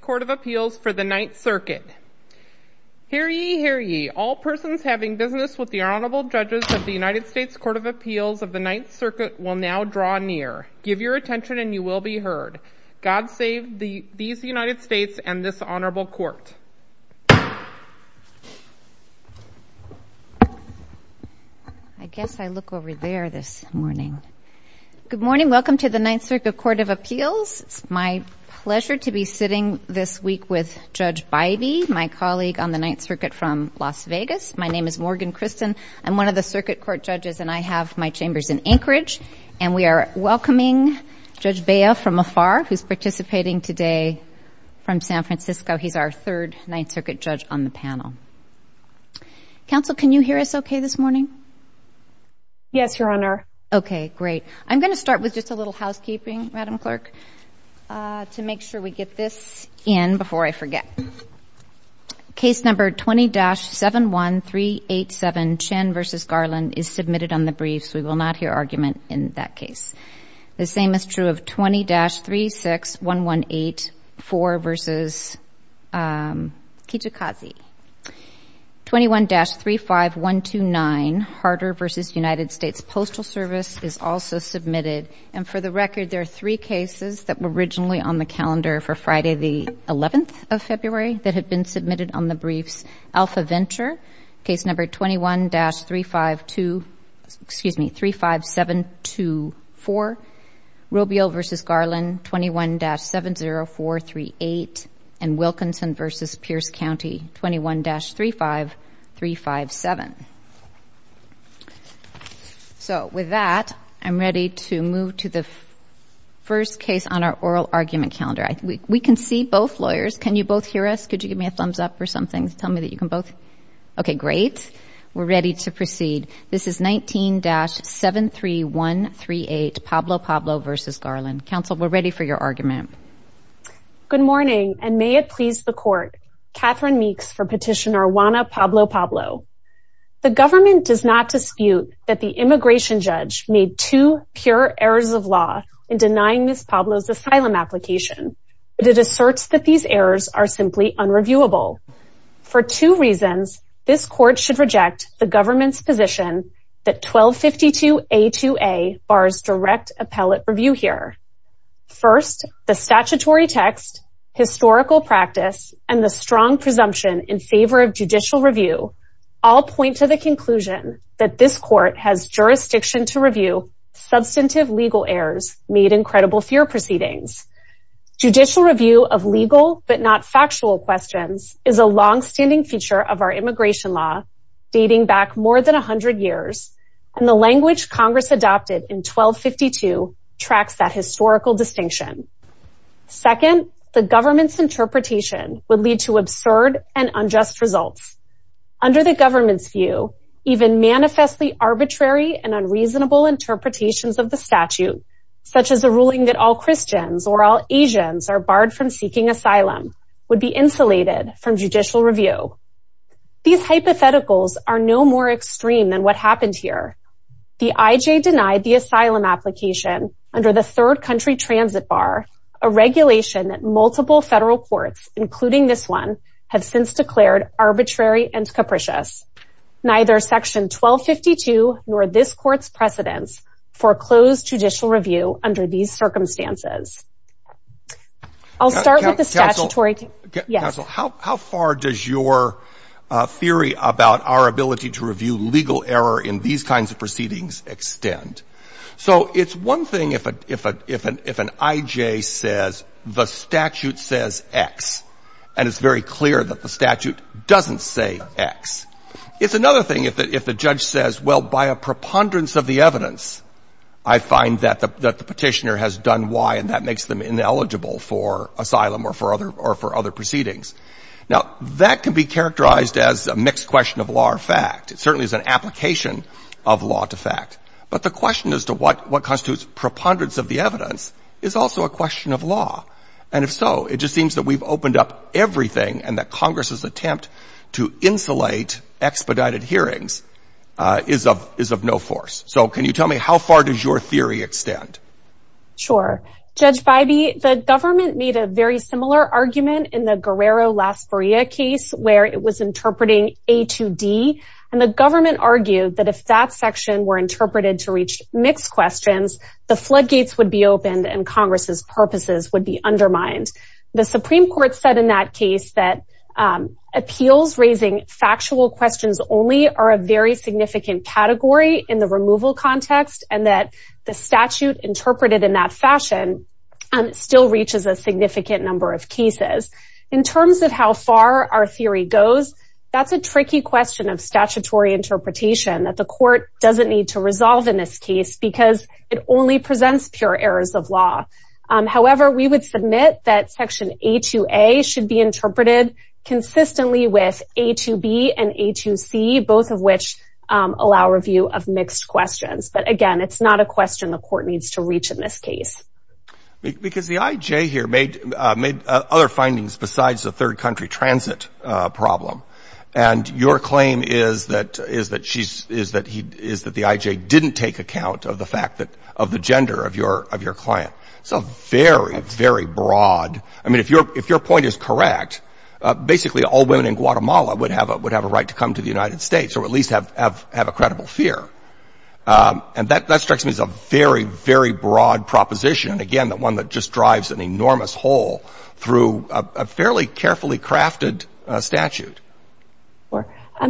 Court of Appeals for the Ninth Circuit. Hear ye, hear ye. All persons having business with the Honorable Judges of the United States Court of Appeals of the Ninth Circuit will now draw near. Give your attention and you will be heard. God save these United States and this Honorable Court. I guess I look over there this morning. Good morning this week with Judge Bybee, my colleague on the Ninth Circuit from Las Vegas. My name is Morgan Christen. I'm one of the circuit court judges and I have my chambers in Anchorage and we are welcoming Judge Bea from afar who's participating today from San Francisco. He's our third Ninth Circuit judge on the panel. Counsel, can you hear us okay this morning? Yes, Your Honor. Okay, great. I'm going to start with just a little housekeeping, Madam Judge. And before I forget, case number 20-71387 Chen v. Garland is submitted on the briefs. We will not hear argument in that case. The same is true of 20-361184 v. Kijikazi. 21-35129 Harder v. United States Postal Service is also submitted. And for the record, there are three cases that were originally on the calendar for Friday, the 11th of February that had been submitted on the briefs. Alpha Venture, case number 21-3524, excuse me, 35724. Robial v. Garland, 21-70438. And Wilkinson v. Pierce County, 21-35357. So with that, I'm ready to move to the first case on our oral argument calendar. We can see both lawyers. Can you both hear us? Could you give me a thumbs up or something to tell me that you can both? Okay, great. We're ready to proceed. This is 19-73138 Pablo Pablo v. Garland. Counsel, we're ready for your argument. Good morning, and may it please the Court. Catherine Meeks for Petitioner Juana Pablo Pablo. The government does not dispute that the immigration judge made two pure errors of law in denying Ms. Pablo's asylum application, but it asserts that these errors are simply unreviewable. For two reasons, this Court should reject the government's position that 1252A2A bars direct appellate review here. First, the statutory text, historical practice, and the strong presumption in favor of judicial review all point to the conclusion that this Court has jurisdiction to review substantive legal errors made in credible fear proceedings. Judicial review of legal but not factual questions is a longstanding feature of our immigration law, dating back more than 100 years, and the language Congress adopted in 1252 tracks that historical distinction. Second, the government's Under the government's view, even manifestly arbitrary and unreasonable interpretations of the statute, such as a ruling that all Christians or all Asians are barred from seeking asylum, would be insulated from judicial review. These hypotheticals are no more extreme than what happened here. The IJ denied the asylum application under the third country transit bar, a regulation that multiple federal courts, including this one, have since declared arbitrary and capricious. Neither section 1252, nor this Court's precedents, foreclose judicial review under these circumstances. I'll start with the statutory text. Counsel, how far does your theory about our ability to review legal error in these kinds of proceedings extend? So it's one thing if an IJ says the statute says X, and it's very clear that the statute doesn't say X. It's another thing if the judge says, well, by a preponderance of the evidence, I find that the petitioner has done Y and that makes them ineligible for asylum or for other proceedings. Now, that can be characterized as a mixed question of law or fact. It certainly is an application of law to fact. But the question as to what constitutes preponderance of the evidence is also a question of law. And if so, it just seems that we've opened up everything and that Congress's attempt to insulate expedited hearings is of no force. So can you tell me how far does your theory extend? Sure. Judge Bybee, the government made a very similar argument in the Guerrero-Las Barrias case where it was interpreting A to D. And the government argued that if that section were interpreted to reach mixed questions, the floodgates would be opened and Congress's case would be undermined. The Supreme Court said in that case that appeals raising factual questions only are a very significant category in the removal context and that the statute interpreted in that fashion still reaches a significant number of cases. In terms of how far our theory goes, that's a tricky question of statutory interpretation that the court doesn't need to resolve in this case because it only presents pure errors of law. However, we would submit that section A to A should be interpreted consistently with A to B and A to C, both of which allow review of mixed questions. But again, it's not a question the court needs to reach in this case. Because the IJ here made other findings besides the third country transit problem. And your claim is that the IJ didn't take account of the fact that of the gender of your client. So very, very broad. I mean, if your point is correct, basically all women in Guatemala would have a right to come to the United States or at least have a credible fear. And that strikes me as a very, very broad proposition. Again, the one that just drives an enormous hole through a fairly carefully crafted statute.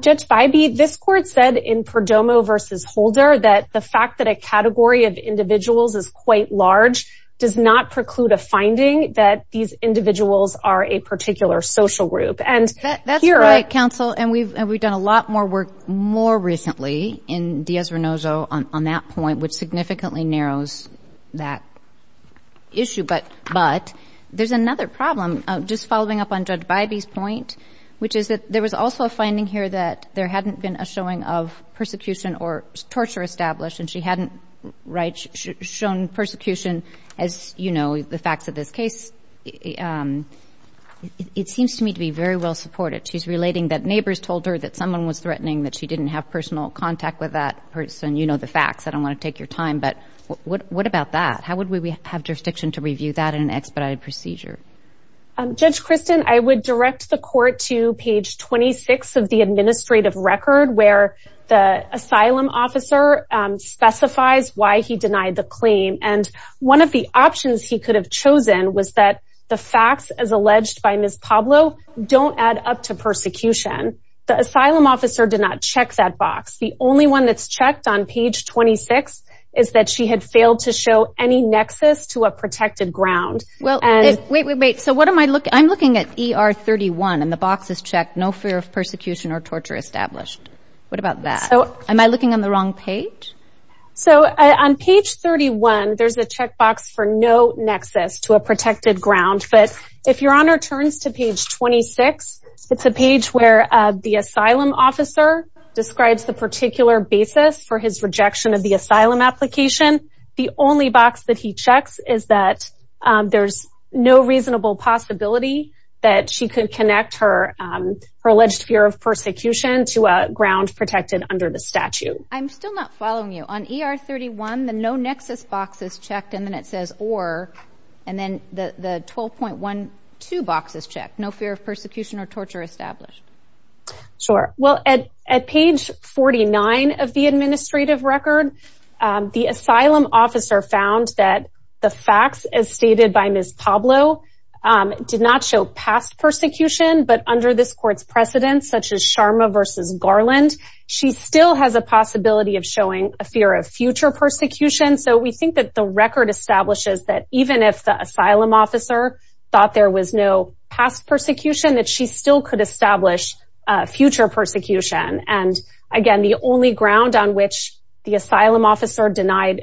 Judge Bybee, this court said in Perdomo v. Holder that the fact that a category of individuals is quite large does not preclude a finding that these individuals are a particular social group. That's right, counsel. And we've done a lot more work more recently in Diaz-Renozo on that point, which significantly narrows that issue. But there's another problem, just following up on Judge Bybee's point, which is that there was also a finding here that there hadn't been a showing of persecution or torture established, and she hadn't shown persecution as the facts of this case. It seems to me to be very well supported. She's relating that neighbors told her that someone was threatening that she didn't have personal contact with that person. You know the facts. I don't want to take your time. But what about that? How would we have jurisdiction to review that in an expedited procedure? Judge Kristen, I would direct the court to page 26 of the administrative record where the asylum officer specifies why he denied the claim. And one of the options he could have chosen was that the facts, as alleged by Ms. Pablo, don't add up to persecution. The asylum officer did not check that box. The only one that's checked on page 26 is that she had failed to show any nexus to a protected ground. Well, wait, wait, wait. So what am I looking at? I'm looking at ER 31, and the box is checked, no fear of persecution or torture established. What about that? Am I looking on the wrong page? So on page 31, there's a checkbox for no nexus to a protected ground. But if Your Honor turns to page 26, it's a page where the asylum officer describes the particular basis for his rejection of the asylum application. The only box that he checks is that there's no reasonable possibility that she could connect her alleged fear of persecution to a ground protected under the statute. I'm still not following you. On ER 31, the no nexus box is checked and then it says or, and then the 12.12 box is checked, no fear of persecution or torture established. Sure. Well, at page 49 of the administrative record, the asylum officer found that the facts as stated by Ms. Pablo did not show past persecution, but under this court's precedents such as Sharma versus Garland, she still has a possibility of showing a fear of future persecution. So we think that the record establishes that even if the asylum officer thought there was no past persecution, that she still could establish a future persecution. And again, the only ground on which the asylum officer denied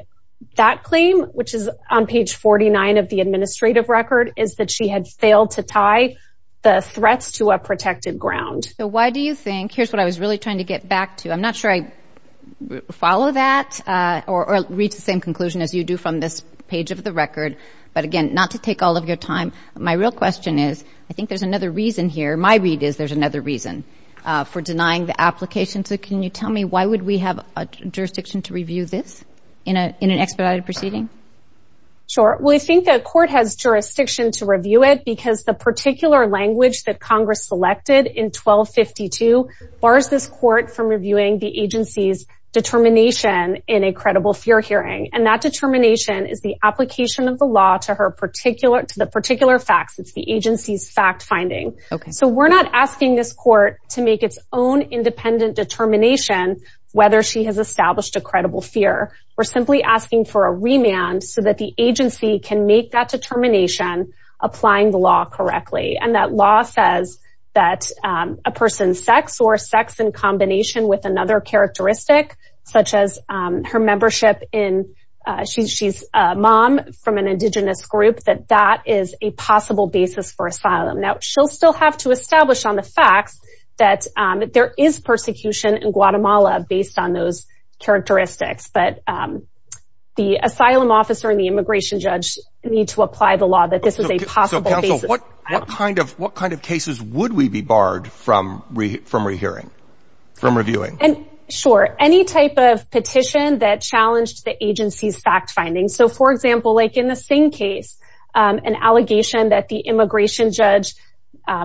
that claim, which is on page 49 of the administrative record, is that she had failed to tie the threats to a protected ground. Why do you think, here's what I was really trying to get back to. I'm not sure I follow that or reach the same conclusion as you do from this page of the record. But again, not to take all of your time. My real question is, I think there's another reason here. My read is there's another reason for denying the application. So can you tell me why would we have a jurisdiction to review this in an expedited proceeding? Sure. Well, we think the court has jurisdiction to review it because the particular language that Congress selected in 1252 bars this court from reviewing the agency's determination in a credible fear hearing. And that determination is the application of the law to the particular facts. It's the agency's fact finding. So we're not asking this court to make its own independent determination whether she has established a credible fear. We're simply asking for a remand so that the agency can make that determination applying the law correctly. And that law says that a person's sex or sex in combination with another characteristic, such as her membership in she's she's a mom from an indigenous group, that that is a possible basis for asylum. Now, she'll still have to establish on the facts that there is persecution in Guatemala based on those characteristics. But the asylum officer and the immigration judge need to apply the law that this is a possible basis. What kind of what kind of cases would we be barred from from rehearing from reviewing? And sure, any type of petition that challenged the agency's fact finding. So, for example, like in the same case, an allegation that the immigration judge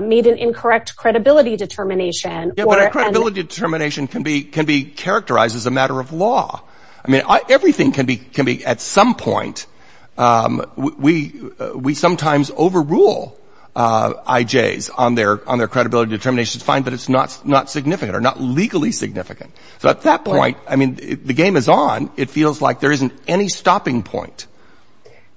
made an incorrect credibility determination or credibility determination can be can be characterized as a matter of law. I mean, everything can be can be at some point. We we sometimes overrule IJs on their credibility determinations, find that it's not not significant or not legally significant. So at that point, I mean, the game is on. It feels like there isn't any stopping point.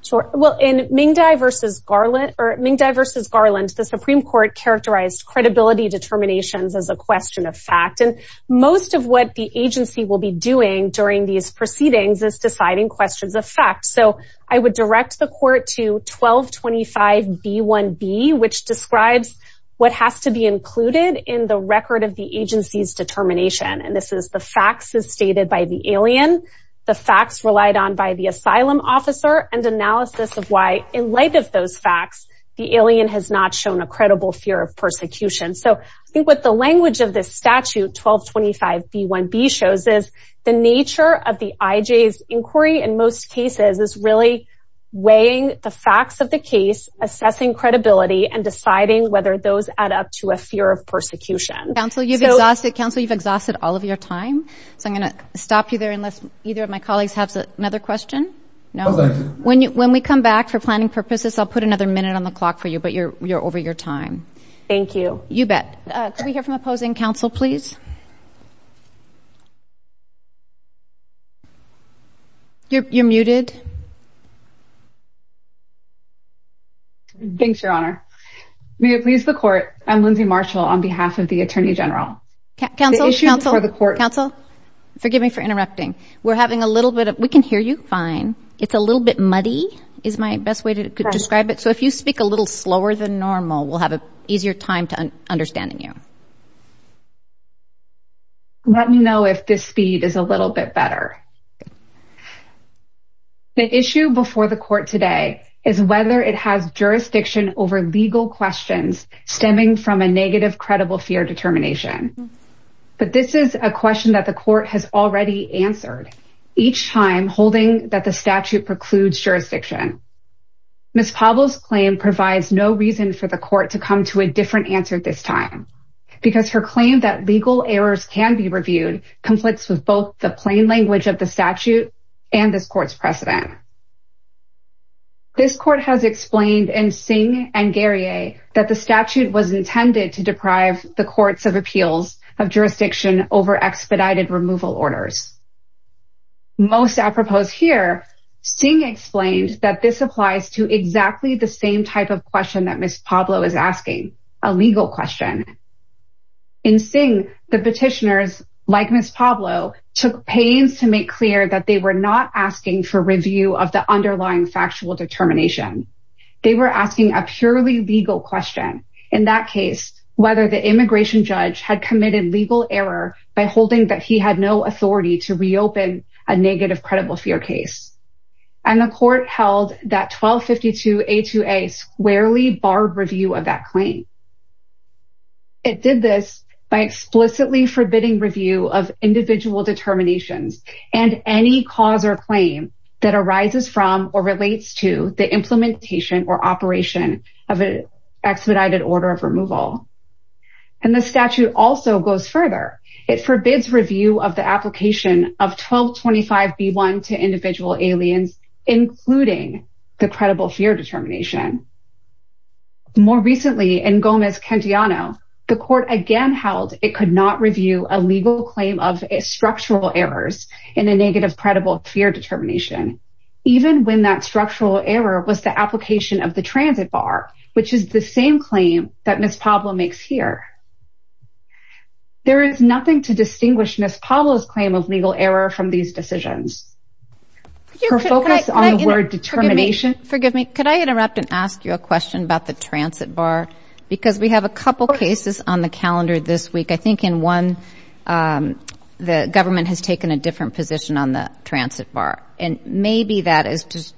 Sure. Well, in Ming Dai versus Garland or Ming Dai versus Garland, the Supreme Court characterized credibility determinations as a question of fact. And most of what the agency will be doing during these proceedings is deciding questions of fact. So I would direct the court to 1225 B1B, which describes what has to be included in the record of the agency's determination. And this is the facts as stated by the alien, the facts relied on by the asylum officer and analysis of why in light of those facts, the alien has not shown a credible fear of persecution. So I think what the language of this statute, 1225 B1B, shows is the nature of IJs inquiry in most cases is really weighing the facts of the case, assessing credibility and deciding whether those add up to a fear of persecution. Council, you've exhausted all of your time. So I'm going to stop you there unless either of my colleagues have another question. When we come back for planning purposes, I'll put another minute on the clock for you, but you're over your time. Thank you. You bet. Can we hear from opposing counsel, please? You're muted. Thanks, Your Honor. May it please the court, I'm Lindsay Marshall on behalf of the Attorney General. Counsel, counsel, counsel, forgive me for interrupting. We're having a little bit of, we can hear you fine. It's a little bit muddy is my best way to describe it. So if you speak a little slower than normal, we'll have an easier time to understanding you. Let me know if this speed is a little bit better. The issue before the court today is whether it has jurisdiction over legal questions stemming from a negative credible fear determination. But this is a question that the court has already answered each time holding that the statute precludes jurisdiction. Ms. Pablos claim provides no reason for the court to come to a different answer this time. Because the statute is not her claim that legal errors can be reviewed conflicts with both the plain language of the statute and this court's precedent. This court has explained in Singh and Garia that the statute was intended to deprive the courts of appeals of jurisdiction over expedited removal orders. Most apropos here, Singh explained that this applies to exactly the same type of question that Ms. Pablo is asking, a legal question. In Singh, the petitioners, like Ms. Pablo, took pains to make clear that they were not asking for review of the underlying factual determination. They were asking a purely legal question. In that case, whether the immigration judge had committed legal error by holding that he had no authority to reopen a negative credible fear case. And the court held that 1252A2A squarely barred review of that claim. It did this by explicitly forbidding review of individual determinations and any cause or claim that arises from or relates to the implementation or operation of an expedited order of removal. And the statute also goes further. It forbids review of the application of 1225B1 to individual aliens, including the credible fear determination. More recently, in Gomez-Cantillano, the court again held it could not review a legal claim of structural errors in a negative credible fear determination. Even when that structural error was the application of the transit bar, which is the same claim that Ms. Pablo makes here. There is nothing to distinguish Ms. Pablo's claim of legal error from these decisions. Forgive me, could I interrupt and ask you a question about the transit bar? Because we have a couple cases on the calendar this week. I think in one, the government has taken a different position on the transit bar. And maybe that is just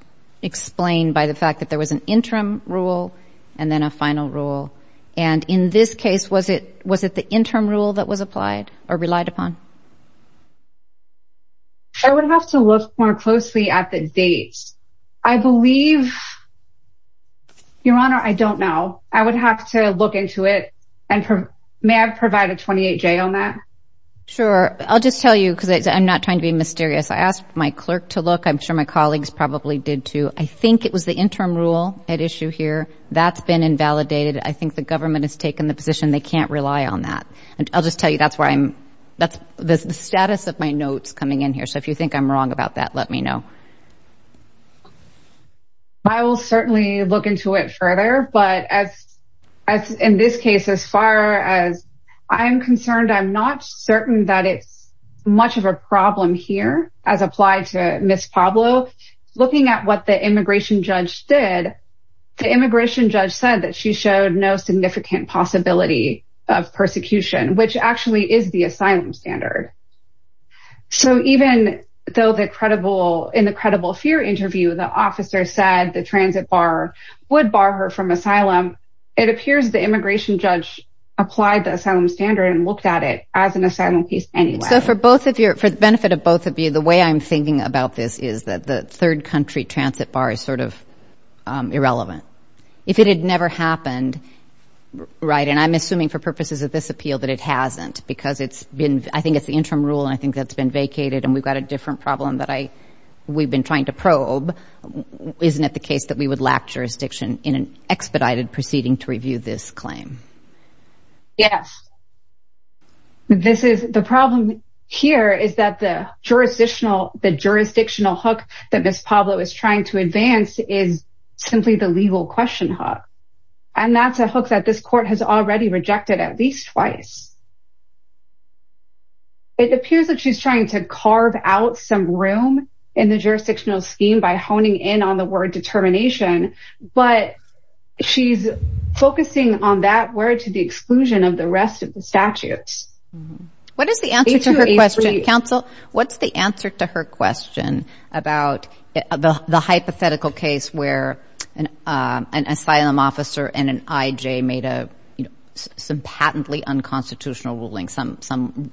by the fact that there was an interim rule and then a final rule. And in this case, was it the interim rule that was applied or relied upon? I would have to look more closely at the dates. I believe, Your Honor, I don't know. I would have to look into it. And may I provide a 28-J on that? Sure. I'll just tell you because I'm not trying to be mysterious. I asked my clerk to look. I'm interim rule at issue here. That's been invalidated. I think the government has taken the position they can't rely on that. And I'll just tell you that's where I'm, that's the status of my notes coming in here. So if you think I'm wrong about that, let me know. I will certainly look into it further. But as in this case, as far as I'm concerned, I'm not certain that it's much of a problem here as applied to Ms. Pablo. Looking at what immigration judge did, the immigration judge said that she showed no significant possibility of persecution, which actually is the asylum standard. So even though the credible, in the credible fear interview, the officer said the transit bar would bar her from asylum. It appears the immigration judge applied the asylum standard and looked at it as an asylum case anyway. So for both of you, for the benefit of both of you, the way I'm thinking about this is that the third country transit bar is sort of irrelevant. If it had never happened. Right. And I'm assuming for purposes of this appeal that it hasn't because it's been, I think it's the interim rule. And I think that's been vacated and we've got a different problem that I, we've been trying to probe. Isn't it the case that we would lack jurisdiction in an expedited proceeding to review this claim? Yes. This is the problem here is that the jurisdictional, the jurisdictional hook that Ms. Pablo is trying to advance is simply the legal question hook. And that's a hook that this court has already rejected at least twice. It appears that she's trying to carve out some room in the jurisdictional scheme by honing in on the word determination, but she's focusing on that word to the exclusion of the rest of the question about the hypothetical case where an asylum officer and an IJ made a, you know, some patently unconstitutional ruling, some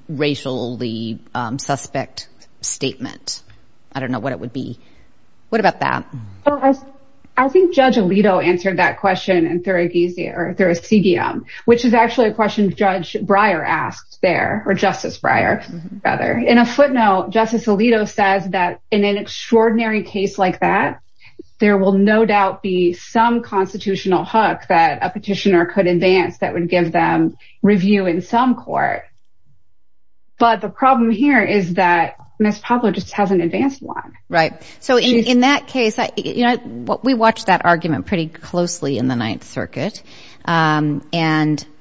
racially suspect statement. I don't know what it would be. What about that? I think Judge Alito answered that question in Thuracidium, which is actually a question Judge Breyer asked there or Justice Breyer rather. In a footnote, Justice Alito says that in an extraordinary case like that, there will no doubt be some constitutional hook that a petitioner could advance that would give them review in some court. But the problem here is that Ms. Pablo just hasn't advanced one. Right. So in that case, you know, we watched that argument pretty closely in the Ninth Circuit. And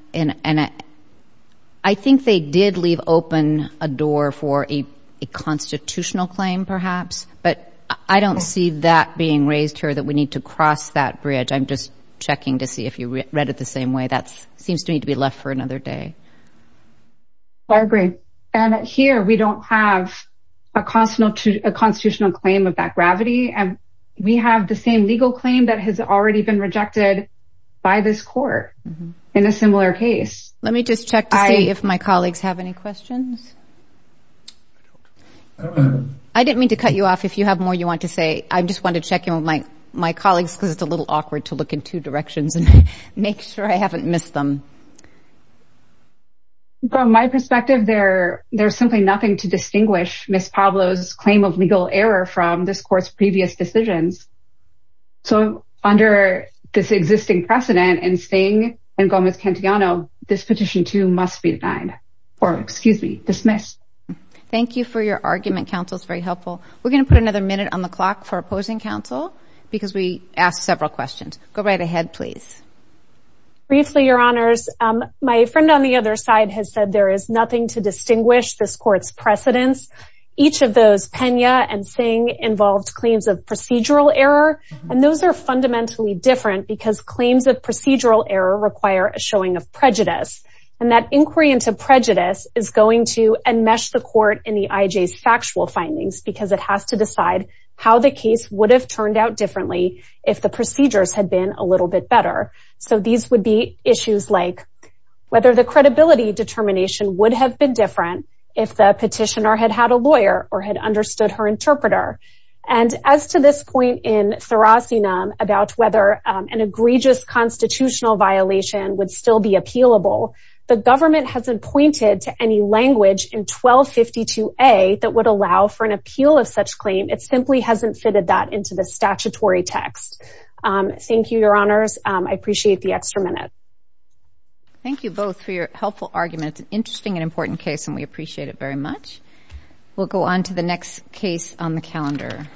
I think they did leave open a door for a constitutional claim, perhaps, but I don't see that being raised here that we need to cross that bridge. I'm just checking to see if you read it the same way. That seems to me to be left for another day. I agree. And here we don't have a constitutional claim of that gravity. And we have the same legal claim that has already been rejected by this court in a similar case. Let me just check to see if my colleagues have any questions. I didn't mean to cut you off if you have more you want to say. I just want to check in with my colleagues because it's a little awkward to look in two directions and make sure I haven't missed them. From my perspective, there's simply nothing to under this existing precedent and Sting and Gomez-Cantillano, this petition, too, must be denied or excuse me, dismissed. Thank you for your argument. Counsel's very helpful. We're going to put another minute on the clock for opposing counsel because we asked several questions. Go right ahead, please. Briefly, Your Honors, my friend on the other side has said there is nothing to distinguish this court's precedents. Each of those, Pena and Sting, involved claims of fundamentally different because claims of procedural error require a showing of prejudice. And that inquiry into prejudice is going to enmesh the court in the IJ's factual findings because it has to decide how the case would have turned out differently if the procedures had been a little bit better. So these would be issues like whether the credibility determination would have been different if the petitioner had had a lawyer or had understood her interpreter. And as to this point in Therasina about whether an egregious constitutional violation would still be appealable, the government hasn't pointed to any language in 1252A that would allow for an appeal of such claim. It simply hasn't fitted that into the statutory text. Thank you, Your Honors. I appreciate the extra minute. Thank you both for your helpful arguments. Interesting and important case and we appreciate it very much. We'll go on to the next case on the calendar.